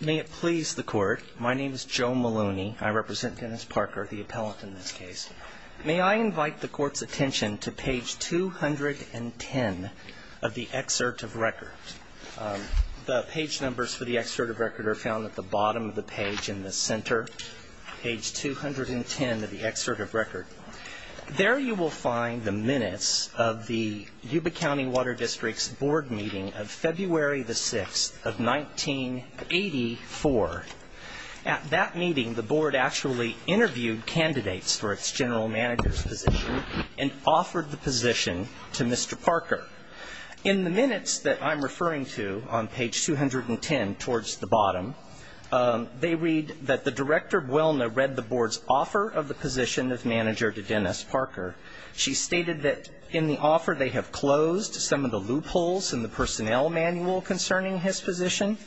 May it please the court. My name is Joe Maloney. I represent Dennis Parker, the appellant in this case. May I invite the court's attention to page 210 of the excerpt of record. The page numbers for the excerpt of record are found at the bottom of the page in the center. Page 210 of the excerpt of record. There you will find the minutes of the Yuba County Water District's board meeting of February the 6th of 1984. At that meeting the board actually interviewed candidates for its general manager's position and offered the position to Mr. Parker. In the minutes that I'm referring to on page 210 towards the bottom, they read that the Director Buelna read the board's offer of the position of manager to Dennis Parker. She stated that in the offer they have closed some of the loopholes in the personnel manual concerning his position.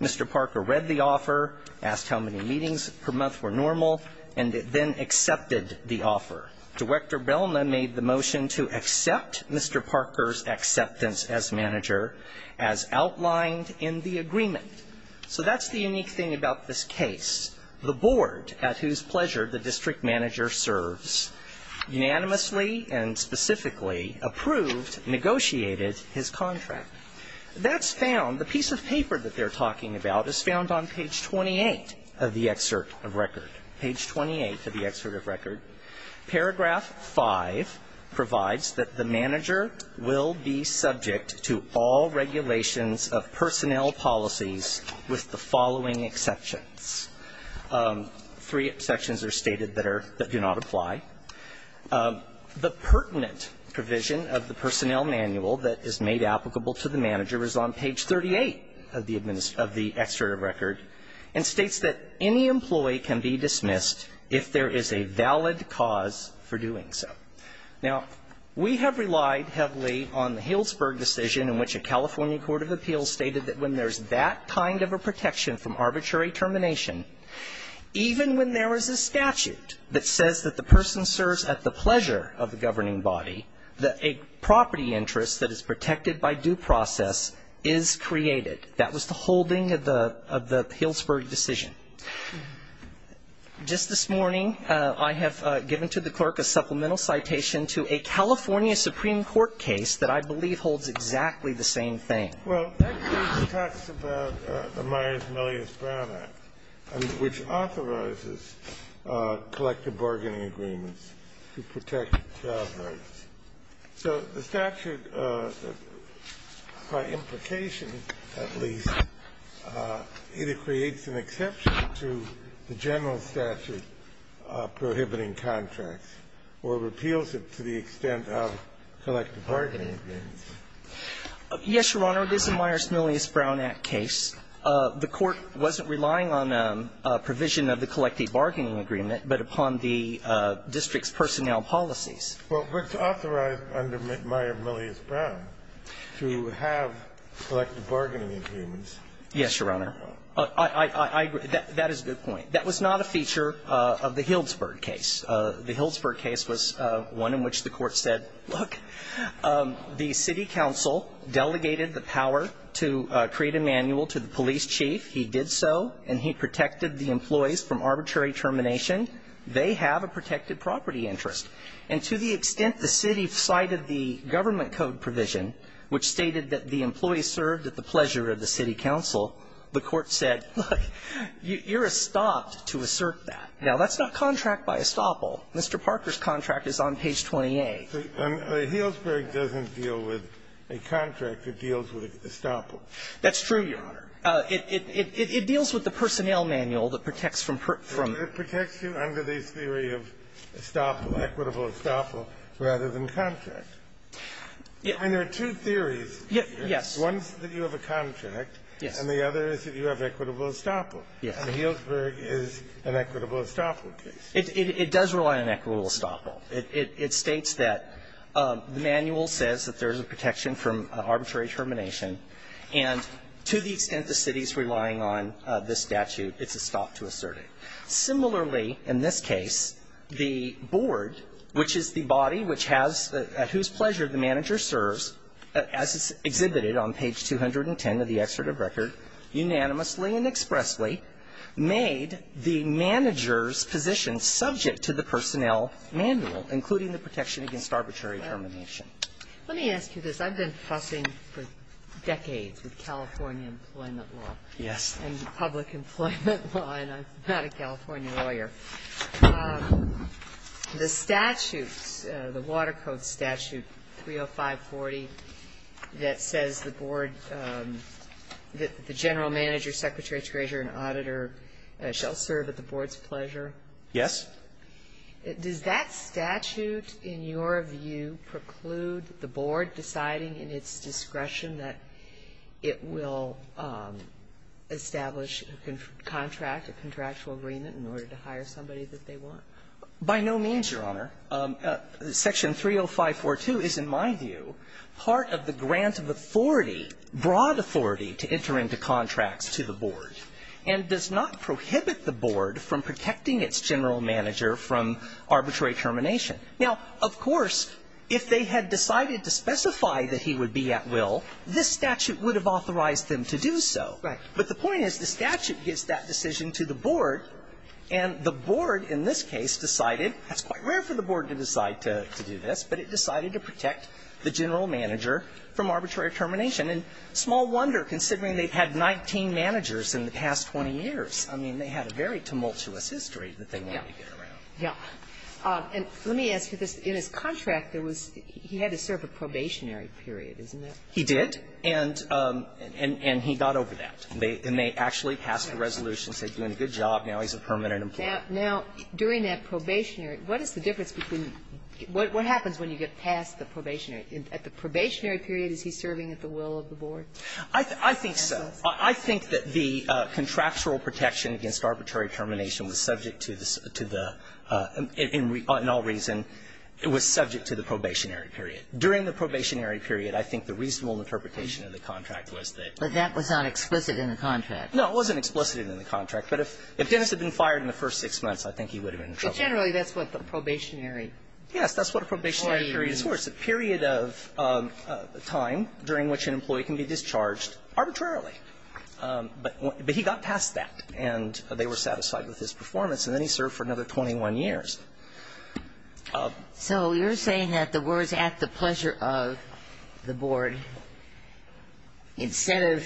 Mr. Parker read the offer, asked how many meetings per month were normal, and then accepted the offer. Director Buelna made the motion to accept Mr. Parker's acceptance as manager as outlined in the agreement. So that's the unique thing about this case. The board, at whose pleasure the district manager serves, unanimously and specifically approved, negotiated his contract. That's found, the piece of paper that they're talking about is found on page 28 of the excerpt of record. Page 28 of the excerpt of record. Paragraph 5 provides that the manager will be subject to all regulations of personnel policies with the following exceptions. Three exceptions are stated that do not apply. The pertinent provision of the personnel manual that is made applicable to the manager is on page 38 of the excerpt of record and states that any employee can be dismissed if there is a valid cause for doing so. Now, we have relied heavily on the Healdsburg decision in which a California court of appeals stated that when there's that kind of a protection from arbitrary termination, even when there is a statute that says that the person serves at the pleasure of the governing body, that a property interest that is protected by due process is created. That was the holding of the Healdsburg decision. Just this morning, I have given to the clerk a supplemental citation to a California supreme court case that I believe holds exactly the same thing. Well, that case talks about the Myers-Millius-Brown Act, which authorizes collective bargaining agreements to protect job rights. So the statute, by implication at least, either creates an exception to the general statute prohibiting contracts or repeals it to the extent of collective bargaining agreements. Yes, Your Honor. It is a Myers-Millius-Brown Act case. The Court wasn't relying on a provision of the collective bargaining agreement but upon the district's personnel policies. Well, it's authorized under Myers-Millius-Brown to have collective bargaining agreements. Yes, Your Honor. I agree. That is a good point. That was not a feature of the Healdsburg case. The Healdsburg case was one in which the Court said, look, the city council delegated the power to create a manual to the police chief. He did so, and he protected the employees from arbitrary termination. They have a protected property interest. And to the extent the city cited the government code provision, which stated that the employees served at the pleasure of the city council, the Court said, look, you're estopped to assert that. Now, that's not contract by estoppel. Mr. Parker's contract is on page 28. The Healdsburg doesn't deal with a contract. It deals with estoppel. That's true, Your Honor. It deals with the personnel manual that protects from prison. It protects you under this theory of estoppel, equitable estoppel, rather than contract. And there are two theories. Yes. One is that you have a contract. Yes. And the other is that you have equitable estoppel. Yes. And the Healdsburg is an equitable estoppel case. It does rely on equitable estoppel. It states that the manual says that there's a protection from arbitrary termination. And to the extent the city is relying on this statute, it's estopped to assert it. Similarly, in this case, the board, which is the body which has, at whose pleasure the manager serves, as is exhibited on page 210 of the excerpt of record, unanimously and expressly made the manager's position subject to the personnel manual, including the protection against arbitrary termination. Let me ask you this. I've been fussing for decades with California employment law. Yes. And public employment law, and I'm not a California lawyer. The statute, the Water Code statute 30540, that says the board, that the general manager, secretary, treasurer, and auditor shall serve at the board's pleasure. Yes. Does that statute, in your view, preclude the board deciding in its discretion that it will establish a contract, a contractual agreement, in order to hire somebody that they want? By no means, Your Honor. Section 30542 is, in my view, part of the grant of authority, broad authority, to enter into contracts to the board, and does not prohibit the board from protecting its general manager from arbitrary termination. Now, of course, if they had decided to specify that he would be at will, this statute would have authorized them to do so. Right. But the point is the statute gives that decision to the board, and the board in this case decided, it's quite rare for the board to decide to do this, but it decided to protect the general manager from arbitrary termination. And small wonder, considering they've had 19 managers in the past 20 years. I mean, they had a very tumultuous history that they wanted to get around. Yeah. And let me ask you this. In his contract, there was he had to serve a probationary period, isn't there? He did, and he got over that. And they actually passed a resolution saying, doing a good job, now he's a permanent employer. Now, during that probationary, what is the difference between what happens when you get past the probationary? At the probationary period, is he serving at the will of the board? I think so. I think that the contractual protection against arbitrary termination was subject to the to the in all reason, it was subject to the probationary period. During the probationary period, I think the reasonable interpretation of the contract was that. But that was not explicit in the contract. No, it wasn't explicit in the contract. But if Dennis had been fired in the first six months, I think he would have been in trouble. But generally, that's what the probationary. Yes, that's what a probationary period is for. It's a period of time during which an employee can be discharged arbitrarily. But he got past that, and they were satisfied with his performance. And then he served for another 21 years. So you're saying that the words, at the pleasure of the board, instead of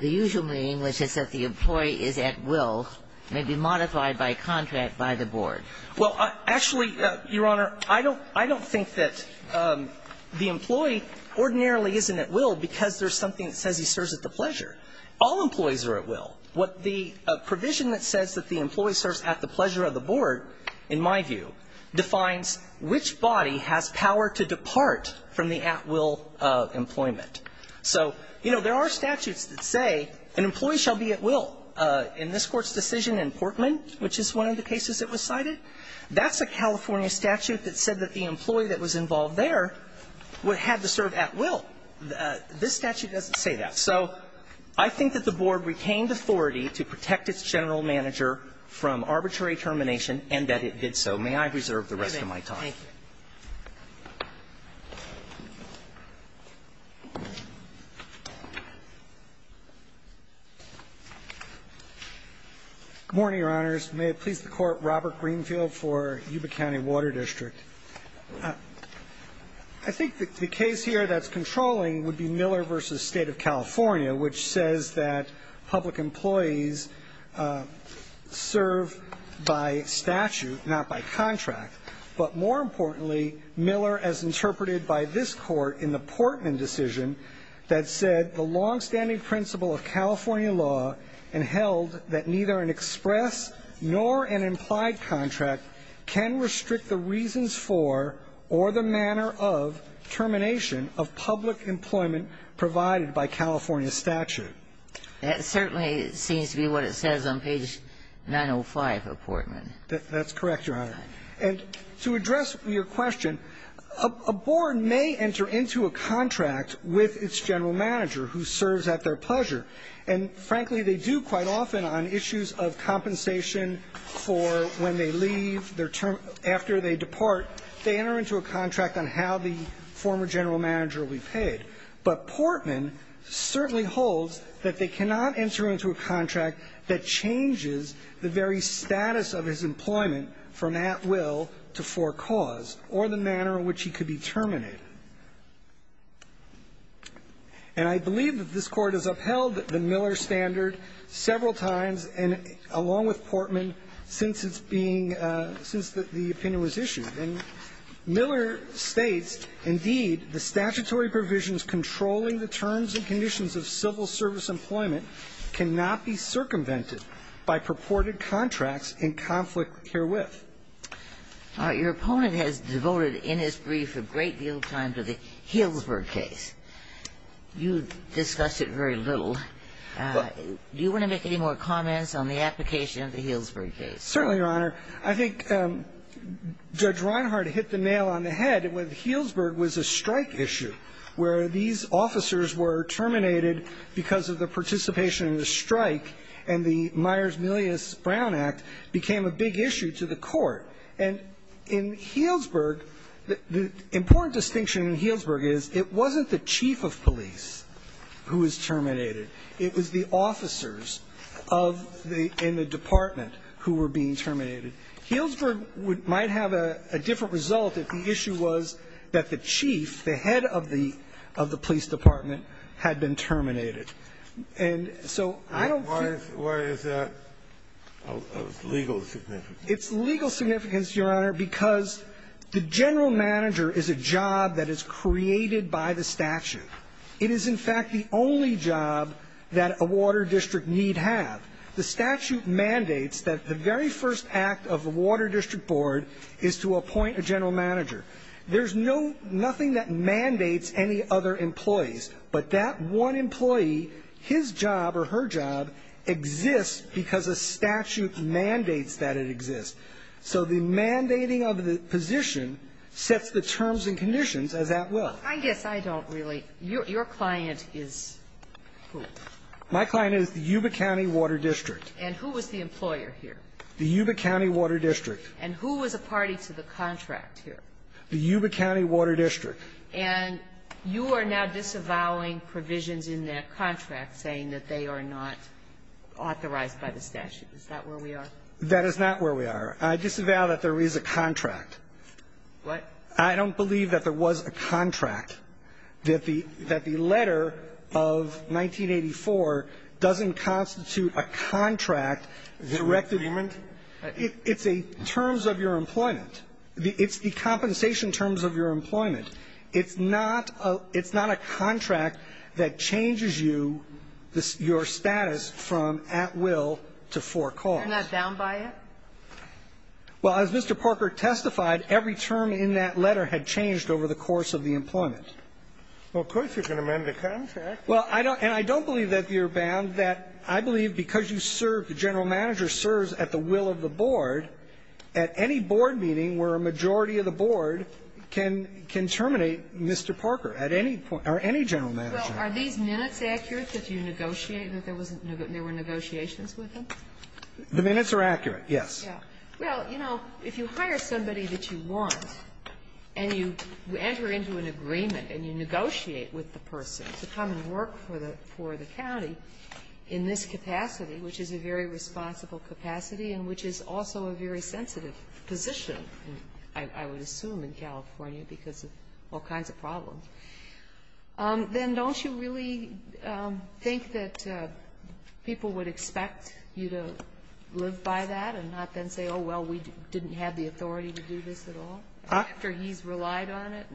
the usual meaning, which is that the employee is at will, may be modified by a contract by the board. Well, actually, Your Honor, I don't think that the employee ordinarily isn't at will because there's something that says he serves at the pleasure. All employees are at will. What the provision that says that the employee serves at the pleasure of the board, in my view, defines which body has power to depart from the at-will employment. So, you know, there are statutes that say an employee shall be at will. In this Court's decision in Portman, which is one of the cases that was cited, that's a California statute that said that the employee that was involved there had to serve at will. This statute doesn't say that. So I think that the board retained authority to protect its general manager from arbitrary termination and that it did so. May I reserve the rest of my time? Good morning, Your Honors. May it please the Court, Robert Greenfield for Yuba County Water District. I think the case here that's controlling would be Miller v. State of California, which says that public employees serve by statute, not by contract. But more importantly, Miller, as interpreted by this Court in the Portman decision, that said the longstanding principle of California law and held that neither an express nor an implied contract can restrict the reasons for or the manner of termination of public employment provided by California statute. That certainly seems to be what it says on page 905 of Portman. That's correct, Your Honor. And to address your question, a board may enter into a contract with its general manager who serves at their pleasure. And frankly, they do quite often on issues of compensation for when they leave, after they depart, they enter into a contract on how the former general manager will be paid. But Portman certainly holds that they cannot enter into a contract that changes the very status of his employment from at will to for cause or the manner in which he could be terminated. And I believe that this Court has upheld the Miller standard several times, and along with Portman, since it's being – since the opinion was issued. And Miller states, indeed, the statutory provisions controlling the terms and conditions of civil service employment cannot be circumvented by purported contracts in conflict herewith. All right. Your opponent has devoted in his brief a great deal of time to the Healdsburg case. You discussed it very little. Do you want to make any more comments on the application of the Healdsburg case? Certainly, Your Honor. I think Judge Reinhardt hit the nail on the head with Healdsburg was a strike issue where these officers were terminated because of the participation in the strike, and the Myers-Milius-Brown Act became a big issue to the Court. And in Healdsburg, the important distinction in Healdsburg is it wasn't the chief of police who was terminated. It was the officers of the – in the department who were being terminated. Healdsburg might have a different result if the issue was that the chief, the head of the police department, had been terminated. And so I don't think – Why is that of legal significance? It's legal significance, Your Honor, because the general manager is a job that is created by the statute. It is, in fact, the only job that a water district need have. The statute mandates that the very first act of the water district board is to appoint a general manager. There's no – nothing that mandates any other employees, but that one employee, his job or her job exists because a statute mandates that it exists. So the mandating of the position sets the terms and conditions as that will. I guess I don't really – your client is who? My client is the Yuba County Water District. And who was the employer here? The Yuba County Water District. And who was a party to the contract here? The Yuba County Water District. And you are now disavowing provisions in that contract saying that they are not authorized by the statute. Is that where we are? That is not where we are. I disavow that there is a contract. What? I don't believe that there was a contract, that the – that the letter of 1984 doesn't constitute a contract. Is it a claimant? It's a terms of your employment. It's the compensation terms of your employment. It's not a – it's not a contract that changes you – your status from at will to for cause. You're not bound by it? Well, as Mr. Parker testified, every term in that letter had changed over the course of the employment. Well, of course you can amend the contract. Well, I don't – and I don't believe that you're bound, that I believe because you serve, the general manager serves at the will of the board, at any board meeting where a majority of the board can – can terminate Mr. Parker at any point – or any general manager. Well, are these minutes accurate that you negotiate that there was – there were negotiations with him? The minutes are accurate, yes. Yeah. Well, you know, if you hire somebody that you want and you enter into an agreement and you negotiate with the person to come and work for the – for the county in this capacity, which is a very responsible capacity and which is also a very sensitive position, I would assume in California because of all kinds of problems, then don't you really think that people would expect you to live by that and not then say, oh, well, we didn't have the authority to do this at all? Huh? After he's relied on it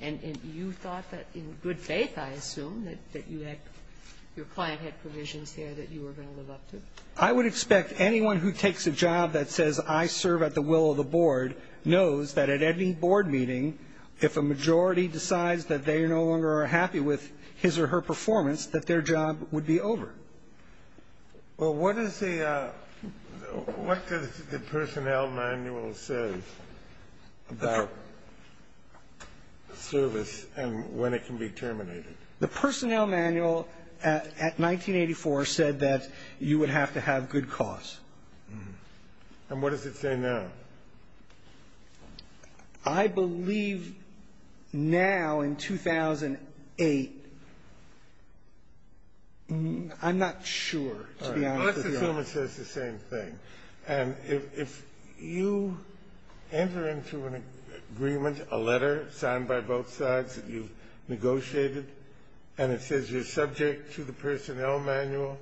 and you thought that in good faith, I assume, that you had – your client had provisions there that you were going to live up to? I would expect anyone who takes a job that says I serve at the will of the board knows that at any board meeting, if a majority decides that they are no longer happy with his or her performance, that their job would be over. Well, what is the – what does the personnel manual say about service and when it can be terminated? The personnel manual at 1984 said that you would have to have good cause. And what does it say now? I believe now in 2008 – I'm not sure, to be honest with you. All right. Let's assume it says the same thing. And if you enter into an agreement, a letter signed by both sides that you've negotiated, and it says you're subject to the personnel manual,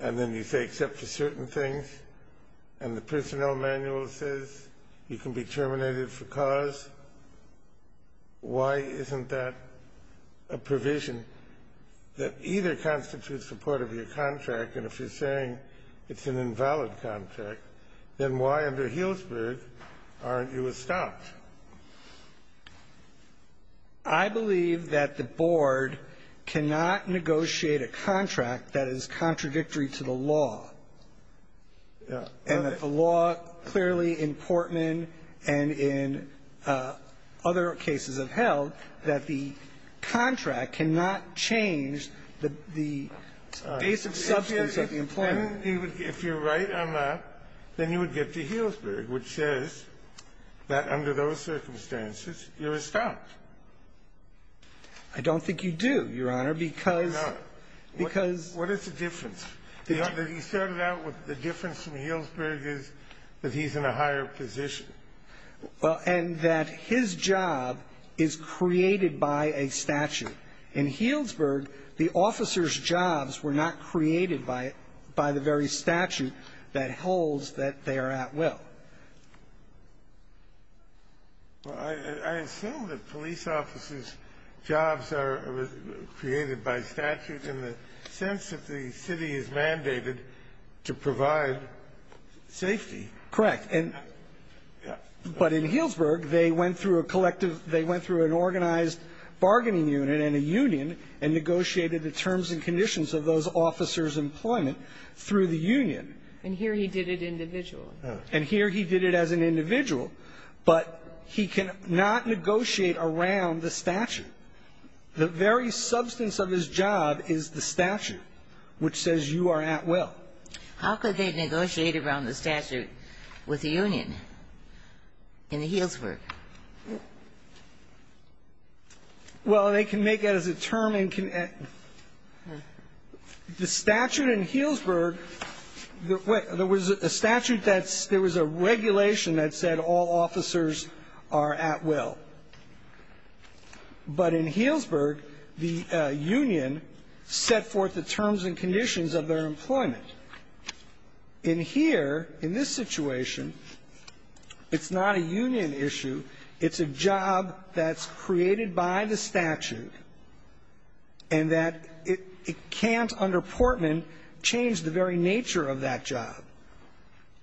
and then you say except for certain things, and the personnel manual says you can be terminated for cause, why isn't that a provision that either constitutes support of your contract? And if you're saying it's an invalid contract, then why under Healdsburg aren't you estopped? I believe that the board cannot negotiate a contract that is contradictory to the law, and that the law clearly in Portman and in other cases I've held that the contract cannot change the basic substance of the employment. If you're right on that, then you would get to Healdsburg, which says that under those circumstances, you're estopped. I don't think you do, Your Honor, because – No. Because – What is the difference? He started out with the difference from Healdsburg is that he's in a higher position. Well, and that his job is created by a statute. In Healdsburg, the officer's jobs were not created by the very statute that holds that they are at will. Well, I assume that police officers' jobs are created by statute in the sense that the city is mandated to provide safety. Correct. And – but in Healdsburg, they went through a collective – they went through an organized bargaining unit and a union and negotiated the terms and conditions of those officers' employment through the union. And here he did it individually. And here he did it as an individual, but he cannot negotiate around the statute. The very substance of his job is the statute, which says you are at will. How could they negotiate around the statute with the union in Healdsburg? Well, they can make it as a term and can – the statute in Healdsburg – there was a statute that's – there was a regulation that said all officers are at will. But in Healdsburg, the union set forth the terms and conditions of their employment. In here, in this situation, it's not a union issue. It's a job that's created by the statute, and that it can't under Portman change the very nature of that job.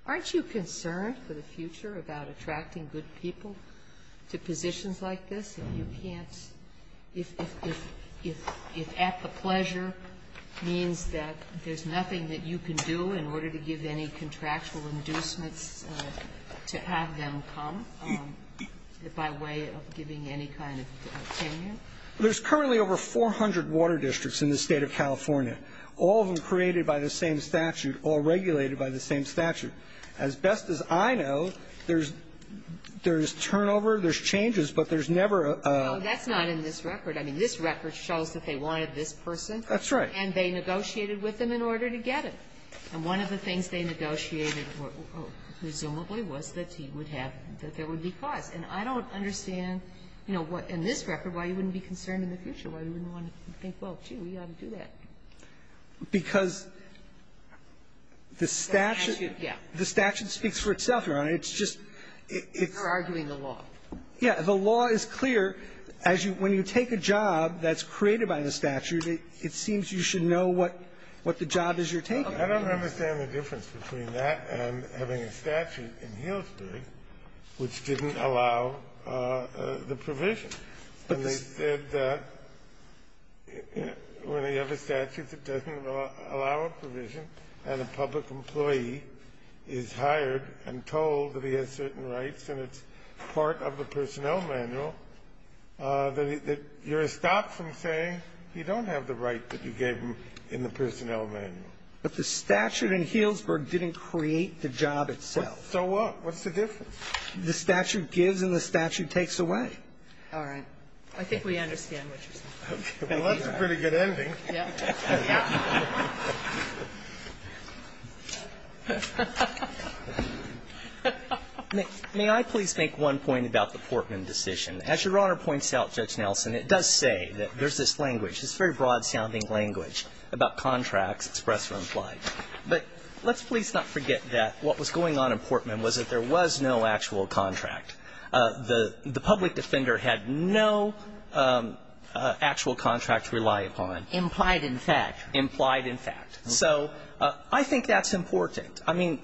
Aren't you concerned for the future about attracting good people to positions like this if you can't – if at the pleasure means that there's nothing that you can do in order to give any contractual inducements to have them come by way of giving any kind of tenure? There's currently over 400 water districts in the State of California, all of them created by the same statute, all regulated by the same statute. As best as I know, there's turnover, there's changes, but there's never a – No, that's not in this record. I mean, this record shows that they wanted this person. That's right. And they negotiated with them in order to get him. And one of the things they negotiated, presumably, was that he would have – that there would be costs. And I don't understand, you know, what – in this record, why you wouldn't be concerned in the future. Why you wouldn't want to think, well, gee, we ought to do that. Because the statute – The statute, yeah. The statute speaks for itself, Your Honor. It's just – it's – You're arguing the law. The law is clear. As you – when you take a job that's created by the statute, it seems you should know what – what the job is you're taking. I don't understand the difference between that and having a statute in Healdsburg which didn't allow the provision. And they said that when you have a statute that doesn't allow a provision and a public employee is hired and told that he has certain rights and it's part of the personnel manual, that you're stopped from saying you don't have the right that you gave him in the personnel manual. But the statute in Healdsburg didn't create the job itself. So what? What's the difference? The statute gives and the statute takes away. All right. I think we understand what you're saying. Okay. Well, that's a pretty good ending. Yeah. May I please make one point about the Portman decision? As Your Honor points out, Judge Nelson, it does say that there's this language, this very broad-sounding language about contracts, express or implied. But let's please not forget that what was going on in Portman was that there was no actual contract. The public defender had no actual contract to rely upon. Implied in fact. Implied in fact. So I think that's important. I mean,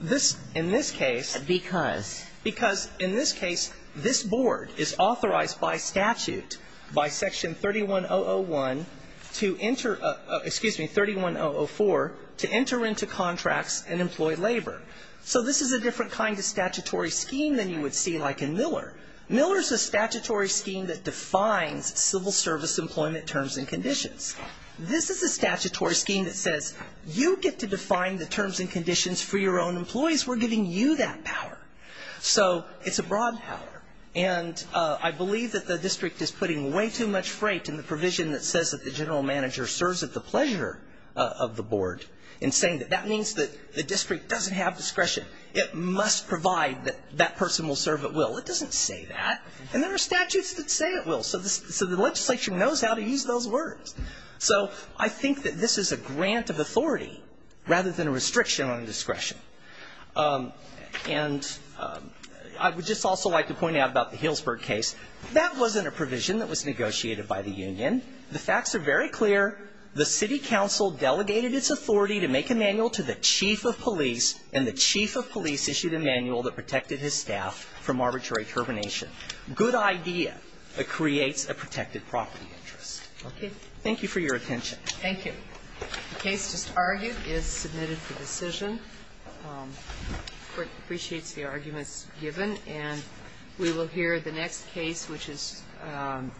in this case. Because? Because in this case, this Board is authorized by statute, by Section 31001 to enter excuse me, 31004, to enter into contracts and employ labor. So this is a different kind of statutory scheme than you would see like in Miller. Miller is a statutory scheme that defines civil service employment terms and conditions. This is a statutory scheme that says you get to define the terms and conditions for your own employees. We're giving you that power. So it's a broad power. And I believe that the district is putting way too much freight in the provision that says that the general manager serves at the pleasure of the Board and saying that that means that the district doesn't have discretion. It must provide that that person will serve at will. It doesn't say that. And there are statutes that say it will. So the legislature knows how to use those words. So I think that this is a grant of authority rather than a restriction on discretion. And I would just also like to point out about the Healdsburg case. That wasn't a provision that was negotiated by the union. The facts are very clear. The city council delegated its authority to make a manual to the chief of police, and the chief of police issued a manual that protected his staff from arbitrary termination. Good idea. It creates a protected property interest. Okay. Thank you for your attention. Thank you. The case just argued is submitted for decision. Court appreciates the arguments given. And we will hear the next case, which is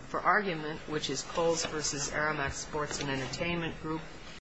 for argument, which is Coles v. Aramak Sports and Entertainment Group.